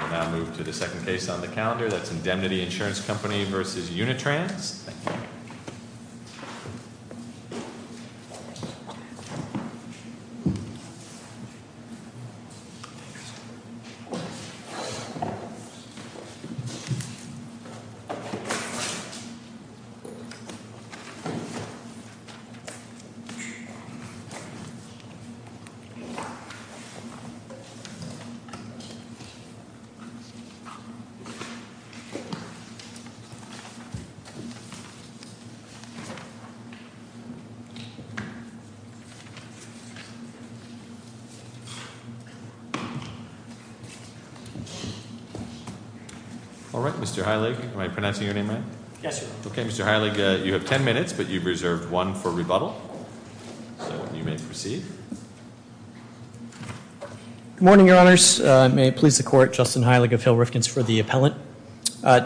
We'll now move to the second case on the calendar. That's Indemnity Insurance Company v. Unitrans. All right, Mr. Heilig, am I pronouncing your name right? Yes, sir. Okay, Mr. Heilig, you have ten minutes, but you've reserved one for rebuttal. So you may proceed. Good morning, Your Honors. May it please the Court, Justin Heilig of Hill Rifkins for the appellant.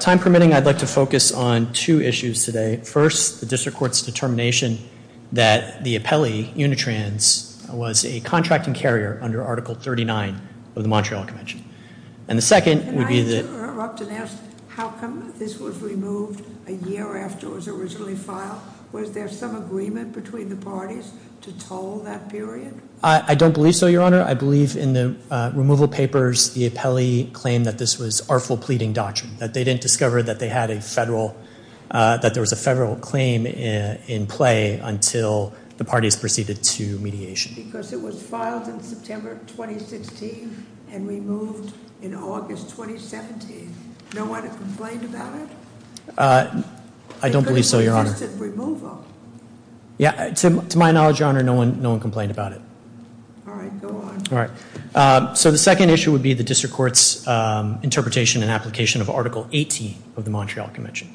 Time permitting, I'd like to focus on two issues today. First, the District Court's determination that the appellee, Unitrans, was a contracting carrier under Article 39 of the Montreal Convention. Can I interrupt and ask how come this was removed a year after it was originally filed? Was there some agreement between the parties to toll that period? I don't believe so, Your Honor. I believe in the removal papers the appellee claimed that this was artful pleading doctrine, that they didn't discover that there was a federal claim in play until the parties proceeded to mediation. Because it was filed in September 2016 and removed in August 2017. No one complained about it? I don't believe so, Your Honor. Because it was just a removal. Yeah, to my knowledge, Your Honor, no one complained about it. All right, go on. So the second issue would be the District Court's interpretation and application of Article 18 of the Montreal Convention.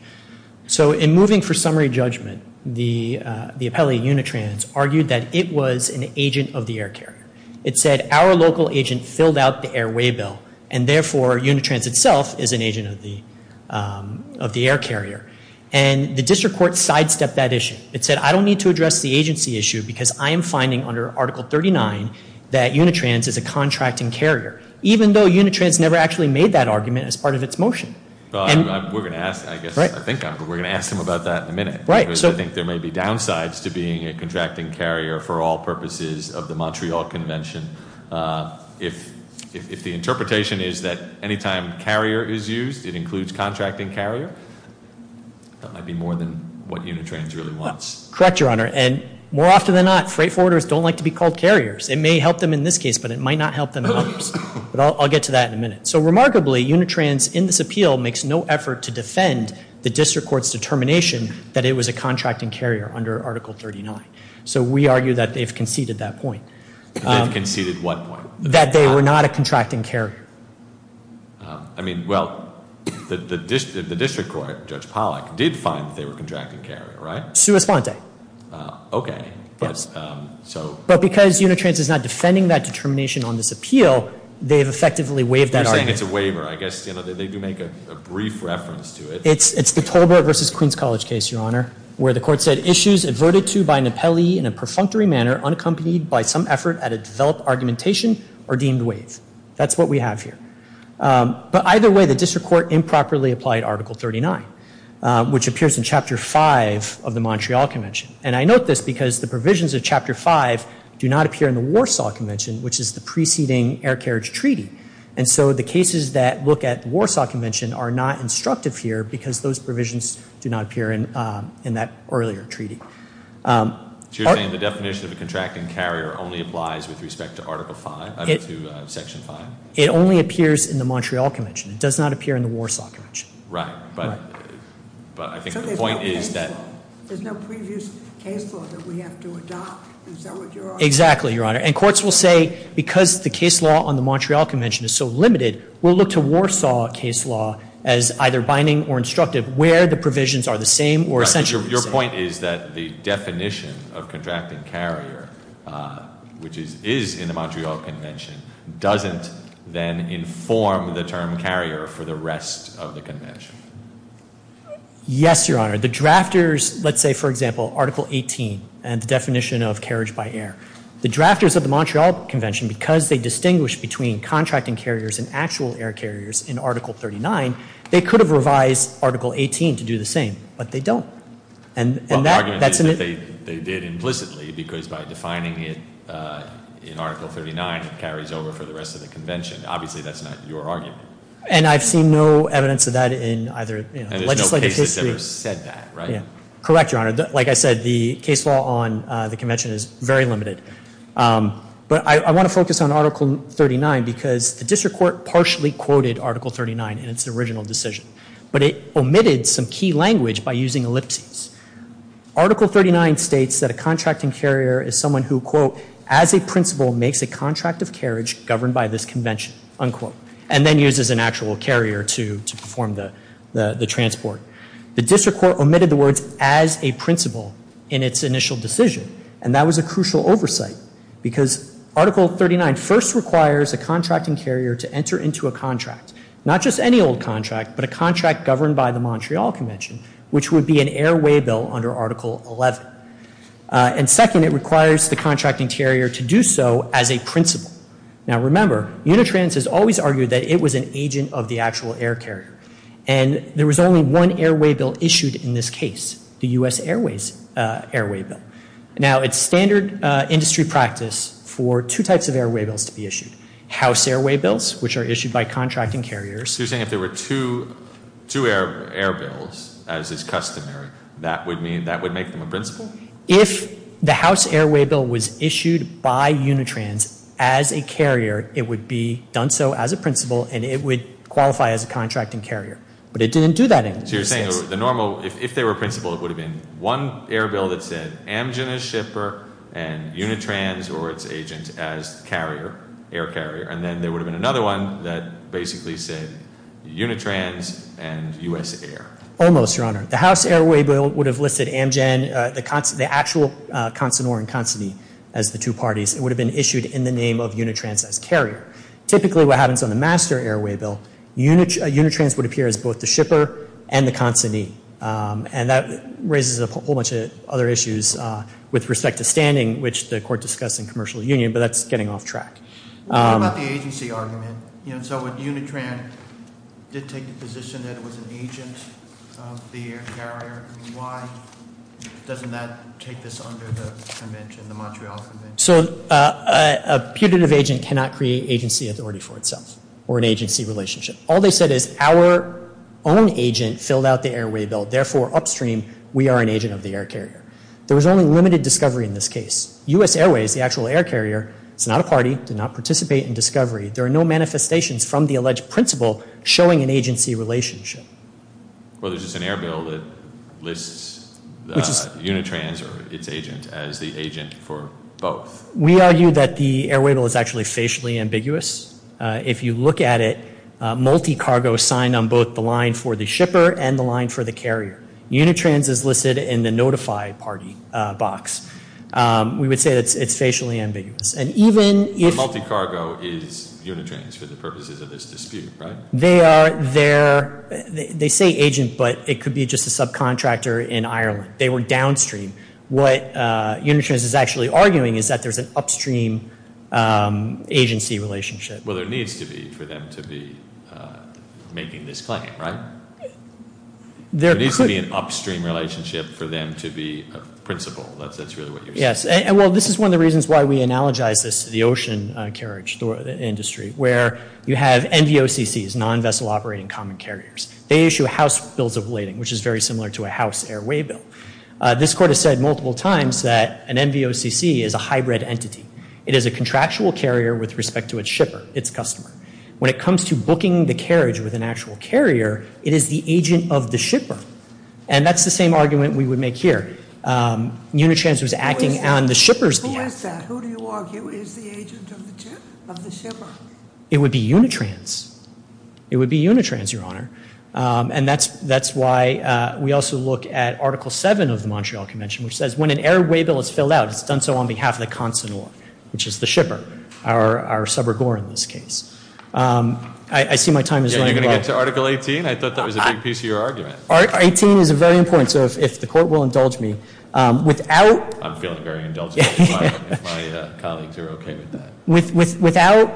So in moving for summary judgment, the appellee, Unitrans, argued that it was an agent of the air carrier. It said, our local agent filled out the airway bill, and therefore Unitrans itself is an agent of the air carrier. And the District Court sidestepped that issue. It said, I don't need to address the agency issue because I am finding under Article 39 that Unitrans is a contracting carrier. Even though Unitrans never actually made that argument as part of its motion. We're going to ask him about that in a minute. I think there may be downsides to being a contracting carrier for all purposes of the Montreal Convention. If the interpretation is that any time carrier is used, it includes contracting carrier, that might be more than what Unitrans really wants. Correct, Your Honor. And more often than not, freight forwarders don't like to be called carriers. It may help them in this case, but it might not help them in others. But I'll get to that in a minute. So remarkably, Unitrans in this appeal makes no effort to defend the District Court's determination that it was a contracting carrier under Article 39. So we argue that they've conceded that point. They've conceded what point? That they were not a contracting carrier. I mean, well, the District Court, Judge Pollack, did find that they were a contracting carrier, right? Sui sponte. Okay. But because Unitrans is not defending that determination on this appeal, they've effectively waived that argument. You're saying it's a waiver. I guess, you know, they do make a brief reference to it. It's the Tolbert v. Queens College case, Your Honor, where the court said, Issues averted to by Napelli in a perfunctory manner unaccompanied by some effort at a developed argumentation are deemed waived. That's what we have here. But either way, the District Court improperly applied Article 39, which appears in Chapter 5 of the Montreal Convention. And I note this because the provisions of Chapter 5 do not appear in the Warsaw Convention, which is the preceding air carriage treaty. And so the cases that look at the Warsaw Convention are not instructive here because those provisions do not appear in that earlier treaty. So you're saying the definition of a contracting carrier only applies with respect to Article 5, to Section 5? It only appears in the Montreal Convention. It does not appear in the Warsaw Convention. Right, but I think the point is that- There's no previous case law that we have to adopt. Is that what you're arguing? Exactly, Your Honor. And courts will say because the case law on the Montreal Convention is so limited, we'll look to Warsaw case law as either binding or instructive where the provisions are the same or essentially the same. Your point is that the definition of contracting carrier, which is in the Montreal Convention, doesn't then inform the term carrier for the rest of the Convention. Yes, Your Honor. The drafters, let's say, for example, Article 18 and the definition of carriage by air. The drafters of the Montreal Convention, because they distinguish between contracting carriers and actual air carriers in Article 39, they could have revised Article 18 to do the same, but they don't. Well, the argument is that they did implicitly because by defining it in Article 39, it carries over for the rest of the Convention. Obviously, that's not your argument. And I've seen no evidence of that in either legislative history- And there's no cases that have said that, right? Correct, Your Honor. Like I said, the case law on the Convention is very limited. But I want to focus on Article 39 because the district court partially quoted Article 39 in its original decision, but it omitted some key language by using ellipses. Article 39 states that a contracting carrier is someone who, quote, as a principal makes a contract of carriage governed by this Convention, unquote, and then uses an actual carrier to perform the transport. The district court omitted the words as a principal in its initial decision, and that was a crucial oversight because Article 39 first requires a contracting carrier to enter into a contract, not just any old contract, but a contract governed by the Montreal Convention, which would be an airway bill under Article 11. And second, it requires the contracting carrier to do so as a principal. Now, remember, Unitrans has always argued that it was an agent of the actual air carrier, and there was only one airway bill issued in this case, the U.S. Airways airway bill. Now, it's standard industry practice for two types of airway bills to be issued, house airway bills, which are issued by contracting carriers. So you're saying if there were two air bills, as is customary, that would make them a principal? If the house airway bill was issued by Unitrans as a carrier, it would be done so as a principal, and it would qualify as a contracting carrier. But it didn't do that in this case. So you're saying if they were principal, it would have been one air bill that said Amgen as shipper and Unitrans or its agent as carrier, air carrier, and then there would have been another one that basically said Unitrans and U.S. Air. Almost, Your Honor. The house airway bill would have listed Amgen, the actual consignor and consignee as the two parties. It would have been issued in the name of Unitrans as carrier. Typically what happens on the master airway bill, Unitrans would appear as both the shipper and the consignee, and that raises a whole bunch of other issues with respect to standing, which the court discussed in commercial union, but that's getting off track. What about the agency argument? So when Unitrans did take the position that it was an agent of the air carrier, why doesn't that take this under the Montreal Convention? So a putative agent cannot create agency authority for itself or an agency relationship. All they said is our own agent filled out the airway bill. Therefore, upstream, we are an agent of the air carrier. There was only limited discovery in this case. U.S. Airways, the actual air carrier, is not a party, did not participate in discovery. There are no manifestations from the alleged principal showing an agency relationship. Well, there's just an air bill that lists Unitrans or its agent as the agent for both. We argue that the airway bill is actually facially ambiguous. If you look at it, multi-cargo signed on both the line for the shipper and the line for the carrier. Unitrans is listed in the notify party box. We would say that it's facially ambiguous. Multi-cargo is Unitrans for the purposes of this dispute, right? They say agent, but it could be just a subcontractor in Ireland. They were downstream. What Unitrans is actually arguing is that there's an upstream agency relationship. Well, there needs to be for them to be making this claim, right? There needs to be an upstream relationship for them to be a principal. That's really what you're saying. Yes. Well, this is one of the reasons why we analogize this to the ocean carriage industry, where you have NVOCCs, non-vessel operating common carriers. They issue house bills of lading, which is very similar to a house airway bill. This court has said multiple times that an NVOCC is a hybrid entity. It is a contractual carrier with respect to its shipper, its customer. When it comes to booking the carriage with an actual carrier, it is the agent of the shipper, and that's the same argument we would make here. Unitrans was acting on the shipper's behalf. Who is that? Who do you argue is the agent of the shipper? It would be Unitrans. It would be Unitrans, Your Honor. And that's why we also look at Article 7 of the Montreal Convention, which says when an airway bill is filled out, it's done so on behalf of the consignor, which is the shipper, our subregor in this case. I see my time is running low. Are you going to get to Article 18? I thought that was a big piece of your argument. Article 18 is very important, so if the court will indulge me. I'm feeling very indulgent if my colleagues are okay with that. Without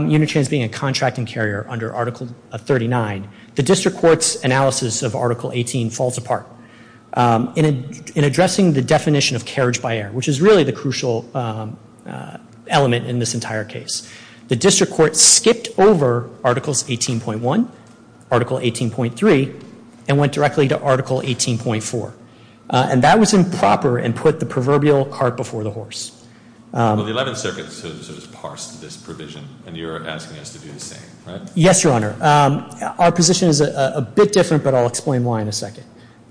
Unitrans being a contracting carrier under Article 39, the district court's analysis of Article 18 falls apart. In addressing the definition of carriage by air, which is really the crucial element in this entire case, the district court skipped over Articles 18.1, Article 18.3, and went directly to Article 18.4. And that was improper and put the proverbial cart before the horse. Well, the Eleventh Circuit sort of parsed this provision, and you're asking us to do the same, right? Yes, Your Honor. Our position is a bit different, but I'll explain why in a second.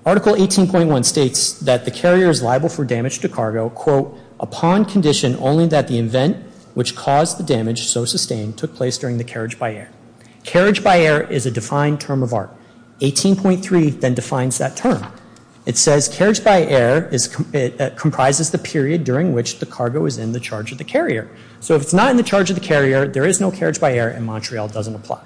Article 18.1 states that the carrier is liable for damage to cargo, quote, upon condition only that the event which caused the damage, so sustained, took place during the carriage by air. Carriage by air is a defined term of art. 18.3 then defines that term. It says carriage by air comprises the period during which the cargo is in the charge of the carrier. So if it's not in the charge of the carrier, there is no carriage by air, and Montreal doesn't apply.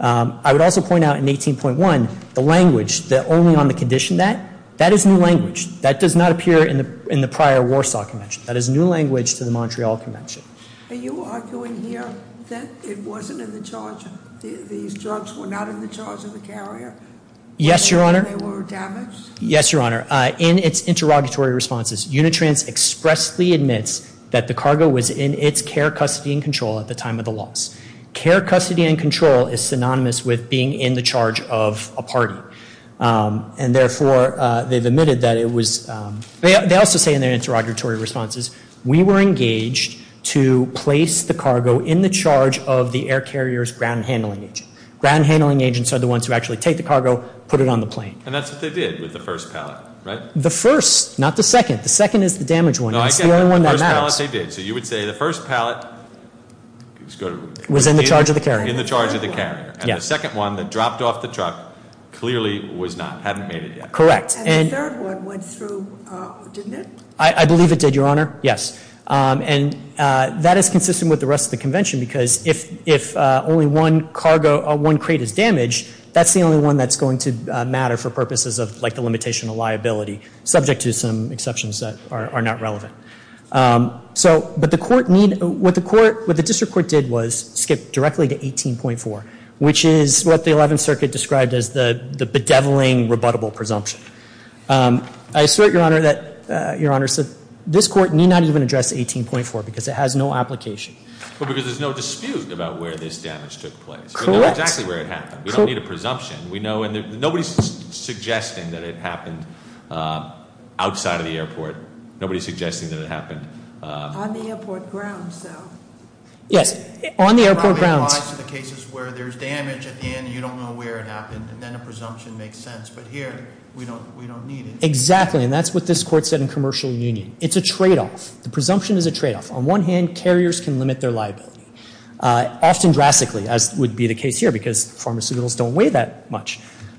I would also point out in 18.1, the language, the only on the condition that, that is new language. That does not appear in the prior Warsaw Convention. That is new language to the Montreal Convention. Are you arguing here that it wasn't in the charge, these drugs were not in the charge of the carrier? Yes, Your Honor. They were damaged? Yes, Your Honor. In its interrogatory responses, Unitrans expressly admits that the cargo was in its care, custody, and control at the time of the loss. Care, custody, and control is synonymous with being in the charge of a party. And therefore, they've admitted that it was, they also say in their interrogatory responses, we were engaged to place the cargo in the charge of the air carrier's ground handling agent. Ground handling agents are the ones who actually take the cargo, put it on the plane. And that's what they did with the first pallet, right? The first, not the second. The second is the damaged one. No, I get that. The first pallet they did. So you would say the first pallet was in the charge of the carrier. In the charge of the carrier. Yes. And the second one that dropped off the truck clearly was not, hadn't made it yet. Correct. And the third one went through, didn't it? I believe it did, Your Honor. Yes. And that is consistent with the rest of the convention because if only one cargo, one crate is damaged, that's the only one that's going to matter for purposes of like the limitation of liability, subject to some exceptions that are not relevant. So, but the court need, what the court, what the district court did was skip directly to 18.4, which is what the 11th Circuit described as the bedeviling, rebuttable presumption. I assert, Your Honor, that, Your Honor, this court need not even address 18.4 because it has no application. Well, because there's no dispute about where this damage took place. Correct. We know exactly where it happened. We don't need a presumption. We know, and nobody's suggesting that it happened outside of the airport. Nobody's suggesting that it happened. On the airport grounds, so. Yes. On the airport grounds. It probably applies to the cases where there's damage at the end and you don't know where it happened, and then a presumption makes sense. But here, we don't need it. Exactly, and that's what this court said in commercial union. It's a tradeoff. The presumption is a tradeoff. On one hand, carriers can limit their liability, often drastically, as would be the case here, because pharmaceuticals don't weigh that much.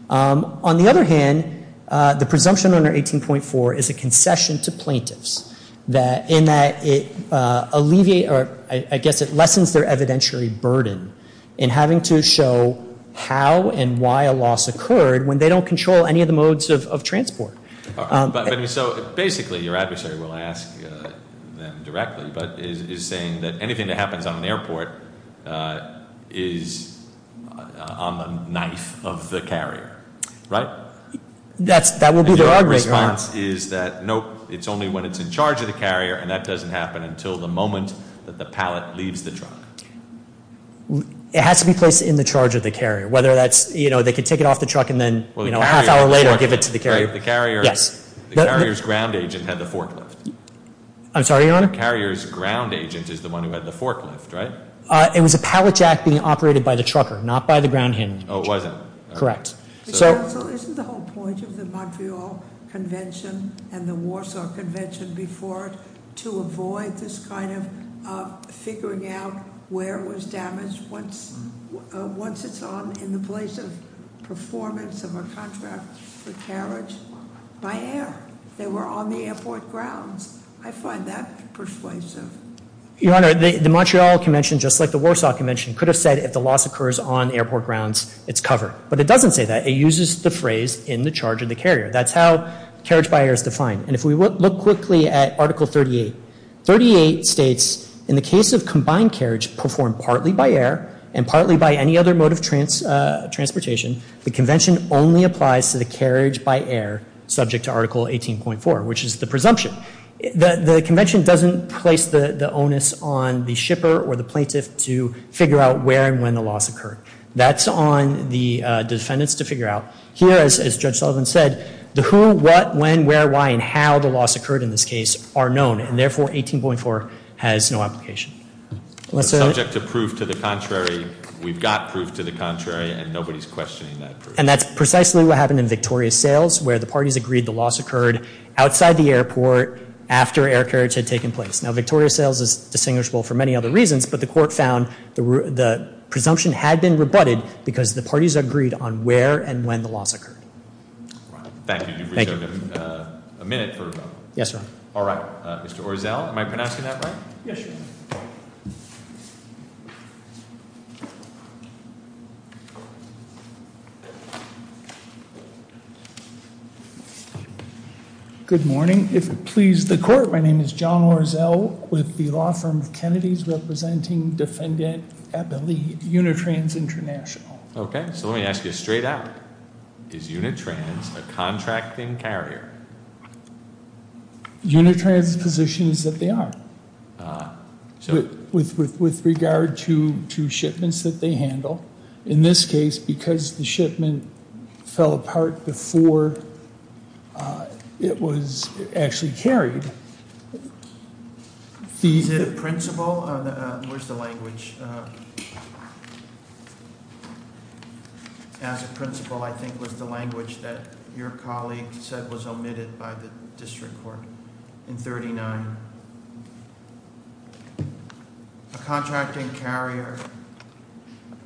On the other hand, the presumption under 18.4 is a concession to plaintiffs, in that it alleviates, or I guess it lessens their evidentiary burden, in having to show how and why a loss occurred when they don't control any of the modes of transport. So basically, your adversary will ask them directly, but is saying that anything that happens on an airport is on the knife of the carrier, right? That will be their argument. Their response is that, nope, it's only when it's in charge of the carrier, and that doesn't happen until the moment that the pallet leaves the truck. It has to be placed in the charge of the carrier, whether that's, you know, they can take it off the truck and then a half hour later give it to the carrier. The carrier's ground agent had the forklift. I'm sorry, Your Honor? The carrier's ground agent is the one who had the forklift, right? It was a pallet jack being operated by the trucker, not by the ground handling agent. Oh, it wasn't. Correct. So isn't the whole point of the Montreal Convention and the Warsaw Convention before it to avoid this kind of figuring out where it was damaged once it's on in the place of performance of a contract for carriage by air? They were on the airport grounds. I find that persuasive. Your Honor, the Montreal Convention, just like the Warsaw Convention, could have said if the loss occurs on airport grounds, it's covered. But it doesn't say that. It uses the phrase in the charge of the carrier. That's how carriage by air is defined. And if we look quickly at Article 38, 38 states, in the case of combined carriage performed partly by air and partly by any other mode of transportation, the Convention only applies to the carriage by air subject to Article 18.4, which is the presumption. The Convention doesn't place the onus on the shipper or the plaintiff to figure out where and when the loss occurred. That's on the defendants to figure out. Here, as Judge Sullivan said, the who, what, when, where, why, and how the loss occurred in this case are known. And therefore, 18.4 has no application. Subject to proof to the contrary, we've got proof to the contrary, and nobody's questioning that proof. And that's precisely what happened in Victoria's Sales, where the parties agreed the loss occurred outside the airport after air carriage had taken place. Now, Victoria's Sales is distinguishable for many other reasons, but the court found the presumption had been rebutted because the parties agreed on where and when the loss occurred. Thank you. You've reserved a minute for rebuttal. Yes, sir. All right. Mr. Orzel, am I pronouncing that right? Yes, sir. Good morning. If it pleases the court, my name is John Orzel, with the law firm of Kennedy's representing defendant at the lead, Unitrans International. Okay. So let me ask you straight out. Is Unitrans a contracting carrier? Unitrans positions that they are. So with regard to shipments that they handle, in this case, because the shipment fell apart before it was actually carried, these... The principle... where's the language? As a principle, I think, was the language that your colleague said was omitted by the district court in 39. A contracting carrier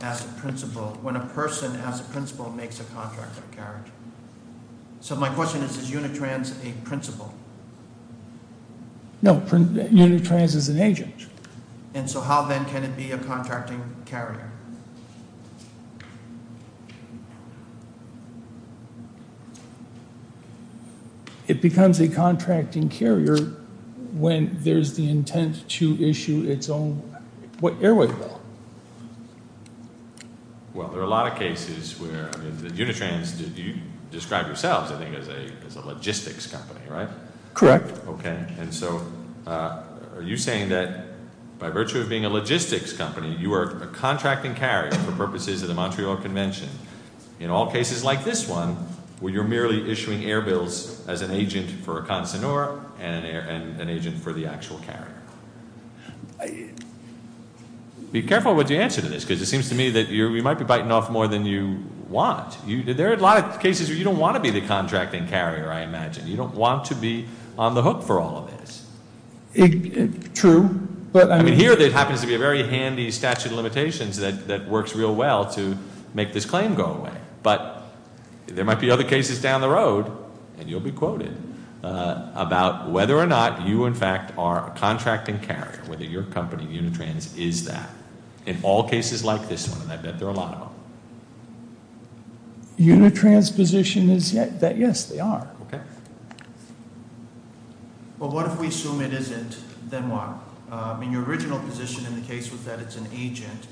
as a principle, when a person as a principle makes a contract of carriage. So my question is, is Unitrans a principle? No. Unitrans is an agent. And so how then can it be a contracting carrier? It becomes a contracting carrier when there's the intent to issue its own airways bill. Well, there are a lot of cases where Unitrans, you described yourselves, I think, as a logistics company, right? Correct. Okay. And so are you saying that by virtue of being a logistics company, you are a contracting carrier for purposes of the Montreal Convention, in all cases like this one, where you're merely issuing air bills as an agent for a consignor and an agent for the actual carrier? Be careful what you answer to this, because it seems to me that you might be biting off more than you want. There are a lot of cases where you don't want to be the contracting carrier, I imagine. You don't want to be on the hook for all of this. True. I mean, here it happens to be a very handy statute of limitations that works real well to make this claim go away. But there might be other cases down the road, and you'll be quoted, about whether or not you in fact are a contracting carrier, whether your company, Unitrans, is that. In all cases like this one, I bet there are a lot of them. Unitrans' position is that, yes, they are. Okay. Well, what if we assume it isn't? Then what? I mean, your original position in the case was that it's an agent.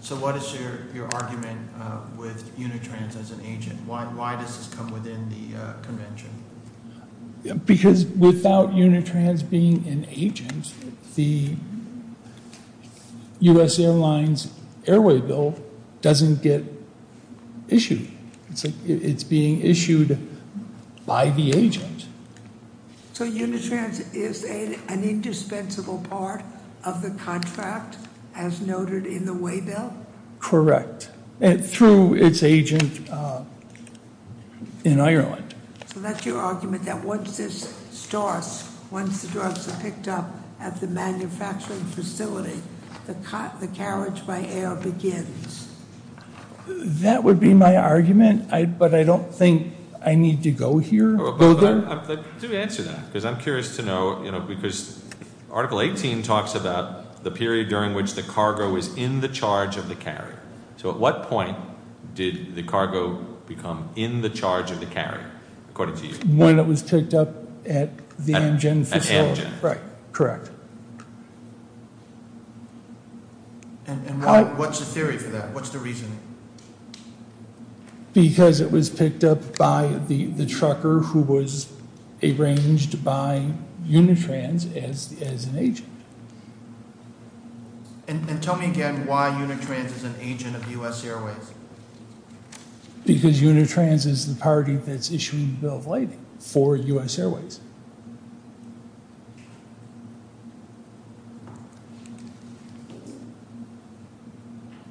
So what is your argument with Unitrans as an agent? Why does this come within the convention? Because without Unitrans being an agent, the U.S. Airlines airway bill doesn't get issued. It's being issued by the agent. So Unitrans is an indispensable part of the contract as noted in the way bill? Correct, through its agent in Ireland. So that's your argument, that once this starts, once the drugs are picked up at the manufacturing facility, the carriage by air begins? That would be my argument, but I don't think I need to go there. Let me answer that, because I'm curious to know, because Article 18 talks about the period during which the cargo is in the charge of the carrier. So at what point did the cargo become in the charge of the carrier, according to you? When it was picked up at the Amgen facility. At Amgen. Correct. And what's the theory for that? What's the reasoning? Because it was picked up by the trucker who was arranged by Unitrans as an agent. And tell me again why Unitrans is an agent of U.S. Airways? Because Unitrans is the party that's issuing the bill of lading for U.S. Airways.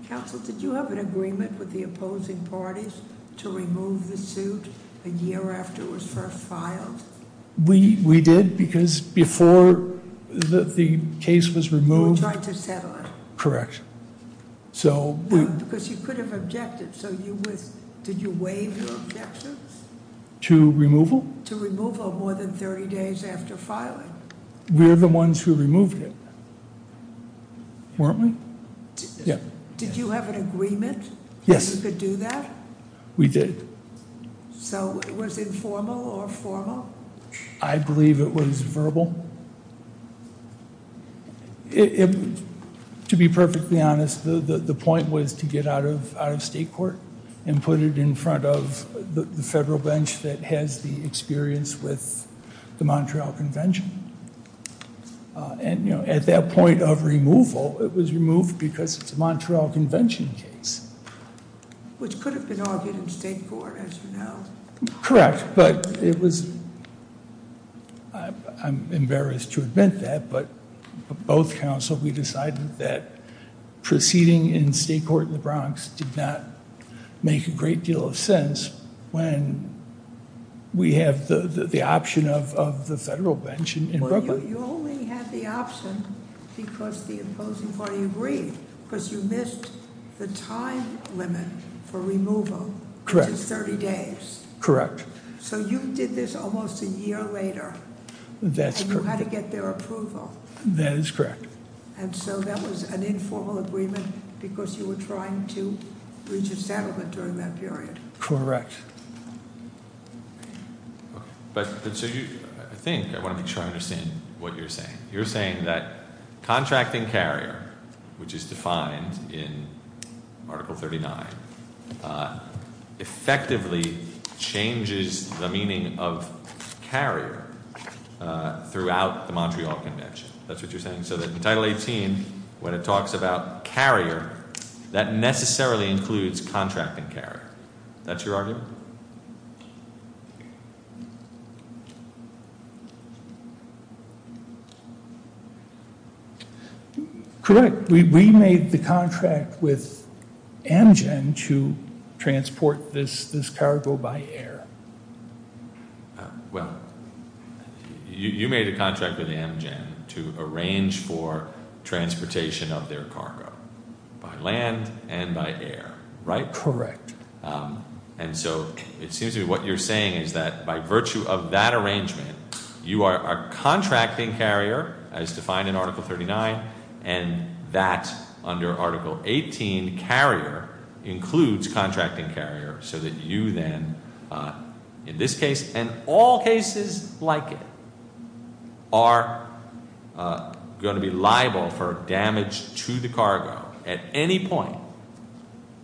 Counsel, did you have an agreement with the opposing parties to remove the suit a year after it was first filed? We did, because before the case was removed... You tried to settle it. Correct. Because you could have objected, so did you waive your objections? To removal? To removal more than 30 days after filing. We're the ones who removed it, weren't we? Did you have an agreement that you could do that? Yes, we did. So it was informal or formal? I believe it was verbal. To be perfectly honest, the point was to get out of state court and put it in front of the federal bench that has the experience with the Montreal Convention. And, you know, at that point of removal, it was removed because it's a Montreal Convention case. Which could have been argued in state court, as you know. Correct, but it was... I'm embarrassed to admit that, but both counsel, we decided that proceeding in state court in the Bronx did not make a great deal of sense when we have the option of the federal bench in Brooklyn. You only had the option because the opposing party agreed, because you missed the time limit for removal, which is 30 days. Correct. So you did this almost a year later. That's correct. And you had to get their approval. That is correct. And so that was an informal agreement because you were trying to reach a settlement during that period. Correct. I think I want to make sure I understand what you're saying. You're saying that contracting carrier, which is defined in Article 39, effectively changes the meaning of carrier throughout the Montreal Convention. That's what you're saying? So that in Title 18, when it talks about carrier, that necessarily includes contracting carrier. That's your argument? Correct. We made the contract with Amgen to transport this cargo by air. Well, you made a contract with Amgen to arrange for transportation of their cargo by land and by air, right? Correct. And so it seems to me what you're saying is that by virtue of that arrangement, you are a contracting carrier, as defined in Article 39, and that, under Article 18, carrier includes contracting carrier so that you then, in this case and all cases like it, are going to be liable for damage to the cargo at any point.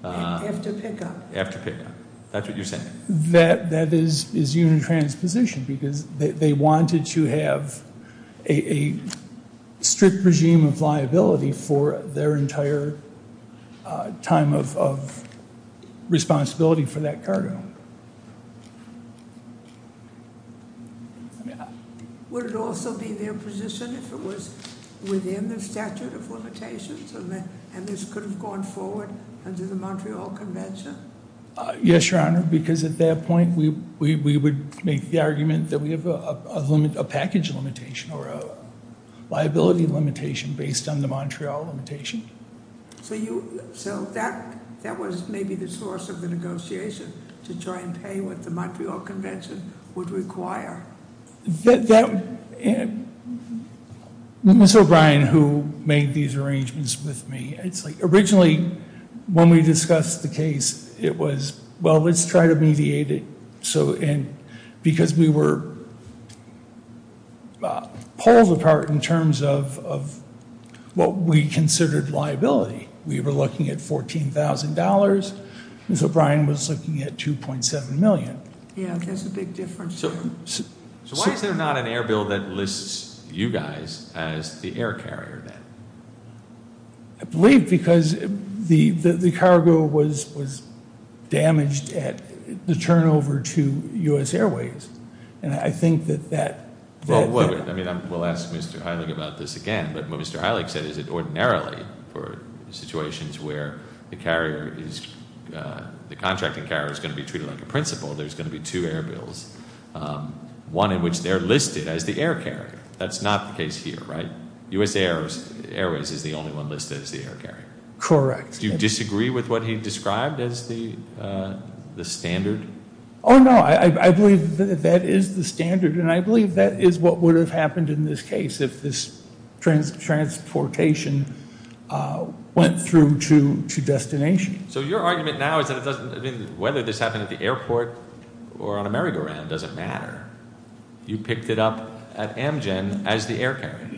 After pickup. After pickup. That's what you're saying. That is unit transposition because they wanted to have a strict regime of liability for their entire time of responsibility for that cargo. Would it also be their position if it was within the statute of limitations and this could have gone forward under the Montreal Convention? Yes, Your Honor, because at that point we would make the argument that we have a package limitation or a liability limitation based on the Montreal limitation. So that was maybe the source of the negotiation to try and pay what the Montreal Convention would require. Ms. O'Brien, who made these arrangements with me, it's like originally when we discussed the case it was, well, let's try to mediate it because we were pulled apart in terms of what we considered liability. We were looking at $14,000. Ms. O'Brien was looking at $2.7 million. Yeah, that's a big difference. So why is there not an air bill that lists you guys as the air carrier then? I believe because the cargo was damaged at the turnover to U.S. Airways. And I think that that Well, I mean, we'll ask Mr. Heilig about this again. But what Mr. Heilig said is that ordinarily for situations where the carrier is, the contracting carrier is going to be treated like a principal, there's going to be two air bills. One in which they're listed as the air carrier. That's not the case here, right? U.S. Airways is the only one listed as the air carrier. Correct. Do you disagree with what he described as the standard? Oh, no. I believe that is the standard. And I believe that is what would have happened in this case if this transportation went through to destination. So your argument now is that it doesn't, I mean, whether this happened at the airport or on a merry-go-round doesn't matter. You picked it up at Amgen as the air carrier.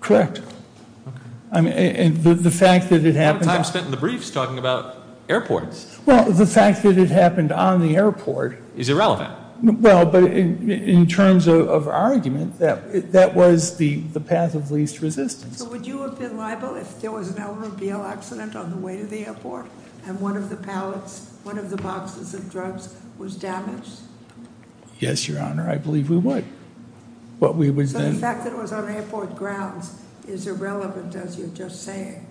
Correct. Okay. The fact that it happened A lot of time spent in the briefs talking about airports. Well, the fact that it happened on the airport Is irrelevant. Well, but in terms of our argument, that was the path of least resistance. So would you have been liable if there was an automobile accident on the way to the airport and one of the pallets, one of the boxes of drugs was damaged? Yes, Your Honor. I believe we would. So the fact that it was on airport grounds is irrelevant, as you're just saying.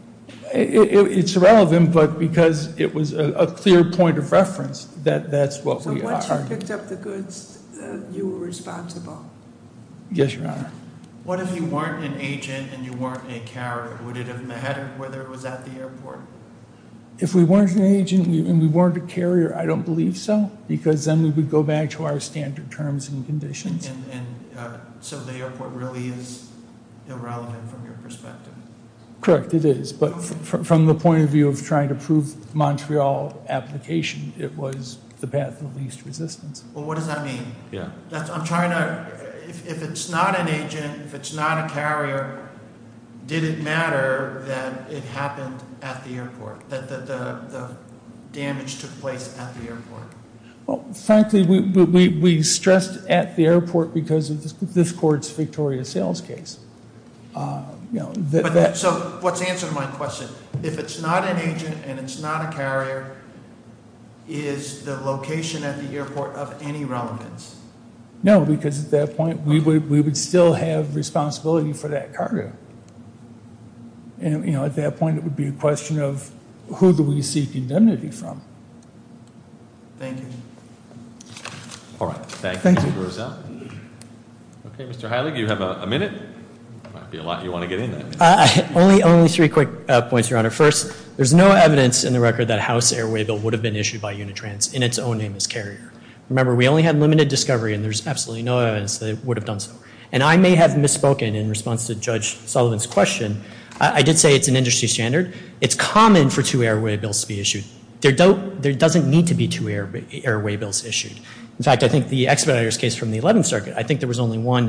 It's irrelevant, but because it was a clear point of reference that that's what we are. So once you picked up the goods, you were responsible. Yes, Your Honor. What if you weren't an agent and you weren't a carrier? Would it have mattered whether it was at the airport? If we weren't an agent and we weren't a carrier, I don't believe so, because then we would go back to our standard terms and conditions. And so the airport really is irrelevant from your perspective? Correct, it is. But from the point of view of trying to prove Montreal application, it was the path of least resistance. Well, what does that mean? I'm trying to, if it's not an agent, if it's not a carrier, did it matter that it happened at the airport, that the damage took place at the airport? Well, frankly, we stressed at the airport because of this court's Victoria Sales case. So what's the answer to my question? If it's not an agent and it's not a carrier, is the location at the airport of any relevance? No, because at that point, we would still have responsibility for that cargo. And at that point, it would be a question of who do we seek indemnity from? Thank you. All right, thank you, Mr. Rozelle. Okay, Mr. Hiley, do you have a minute? There might be a lot you want to get into. Only three quick points, Your Honor. First, there's no evidence in the record that a house airway bill would have been issued by Unitrans in its own name as carrier. Remember, we only had limited discovery, and there's absolutely no evidence that it would have done so. And I may have misspoken in response to Judge Sullivan's question. I did say it's an industry standard. It's common for two airway bills to be issued. There doesn't need to be two airway bills issued. In fact, I think the expeditor's case from the 11th Circuit, I think there was only one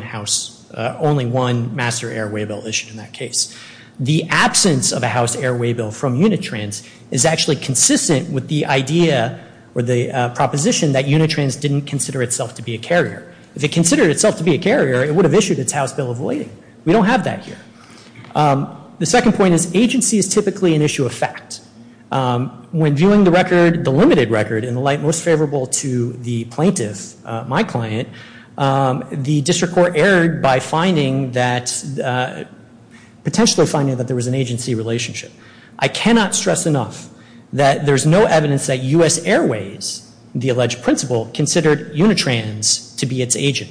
master airway bill issued in that case. The absence of a house airway bill from Unitrans is actually consistent with the idea or the proposition that Unitrans didn't consider itself to be a carrier. If it considered itself to be a carrier, it would have issued its house bill avoiding. We don't have that here. The second point is agency is typically an issue of fact. When viewing the limited record in the light most favorable to the plaintiff, my client, the district court erred by potentially finding that there was an agency relationship. I cannot stress enough that there's no evidence that US Airways, the alleged principal, considered Unitrans to be its agent.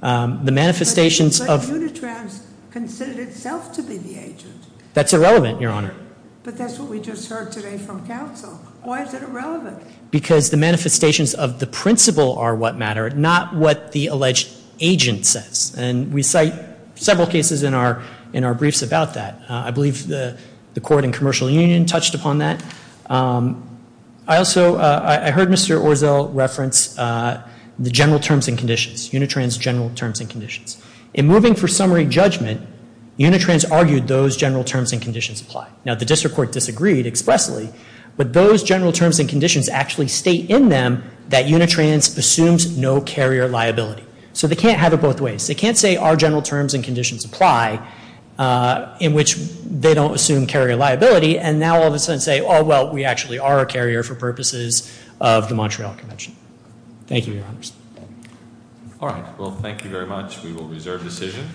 But Unitrans considered itself to be the agent. That's irrelevant, Your Honor. But that's what we just heard today from counsel. Why is it irrelevant? Because the manifestations of the principal are what matter, not what the alleged agent says. And we cite several cases in our briefs about that. I believe the court in Commercial Union touched upon that. I also heard Mr. Orzel reference the general terms and conditions, Unitrans general terms and conditions. In moving for summary judgment, Unitrans argued those general terms and conditions apply. Now, the district court disagreed expressly. But those general terms and conditions actually state in them that Unitrans assumes no carrier liability. So they can't have it both ways. They can't say our general terms and conditions apply, in which they don't assume carrier liability, and now all of a sudden say, oh, well, we actually are a carrier for purposes of the Montreal Convention. Thank you, Your Honors. All right. Well, thank you very much. We will reserve decision.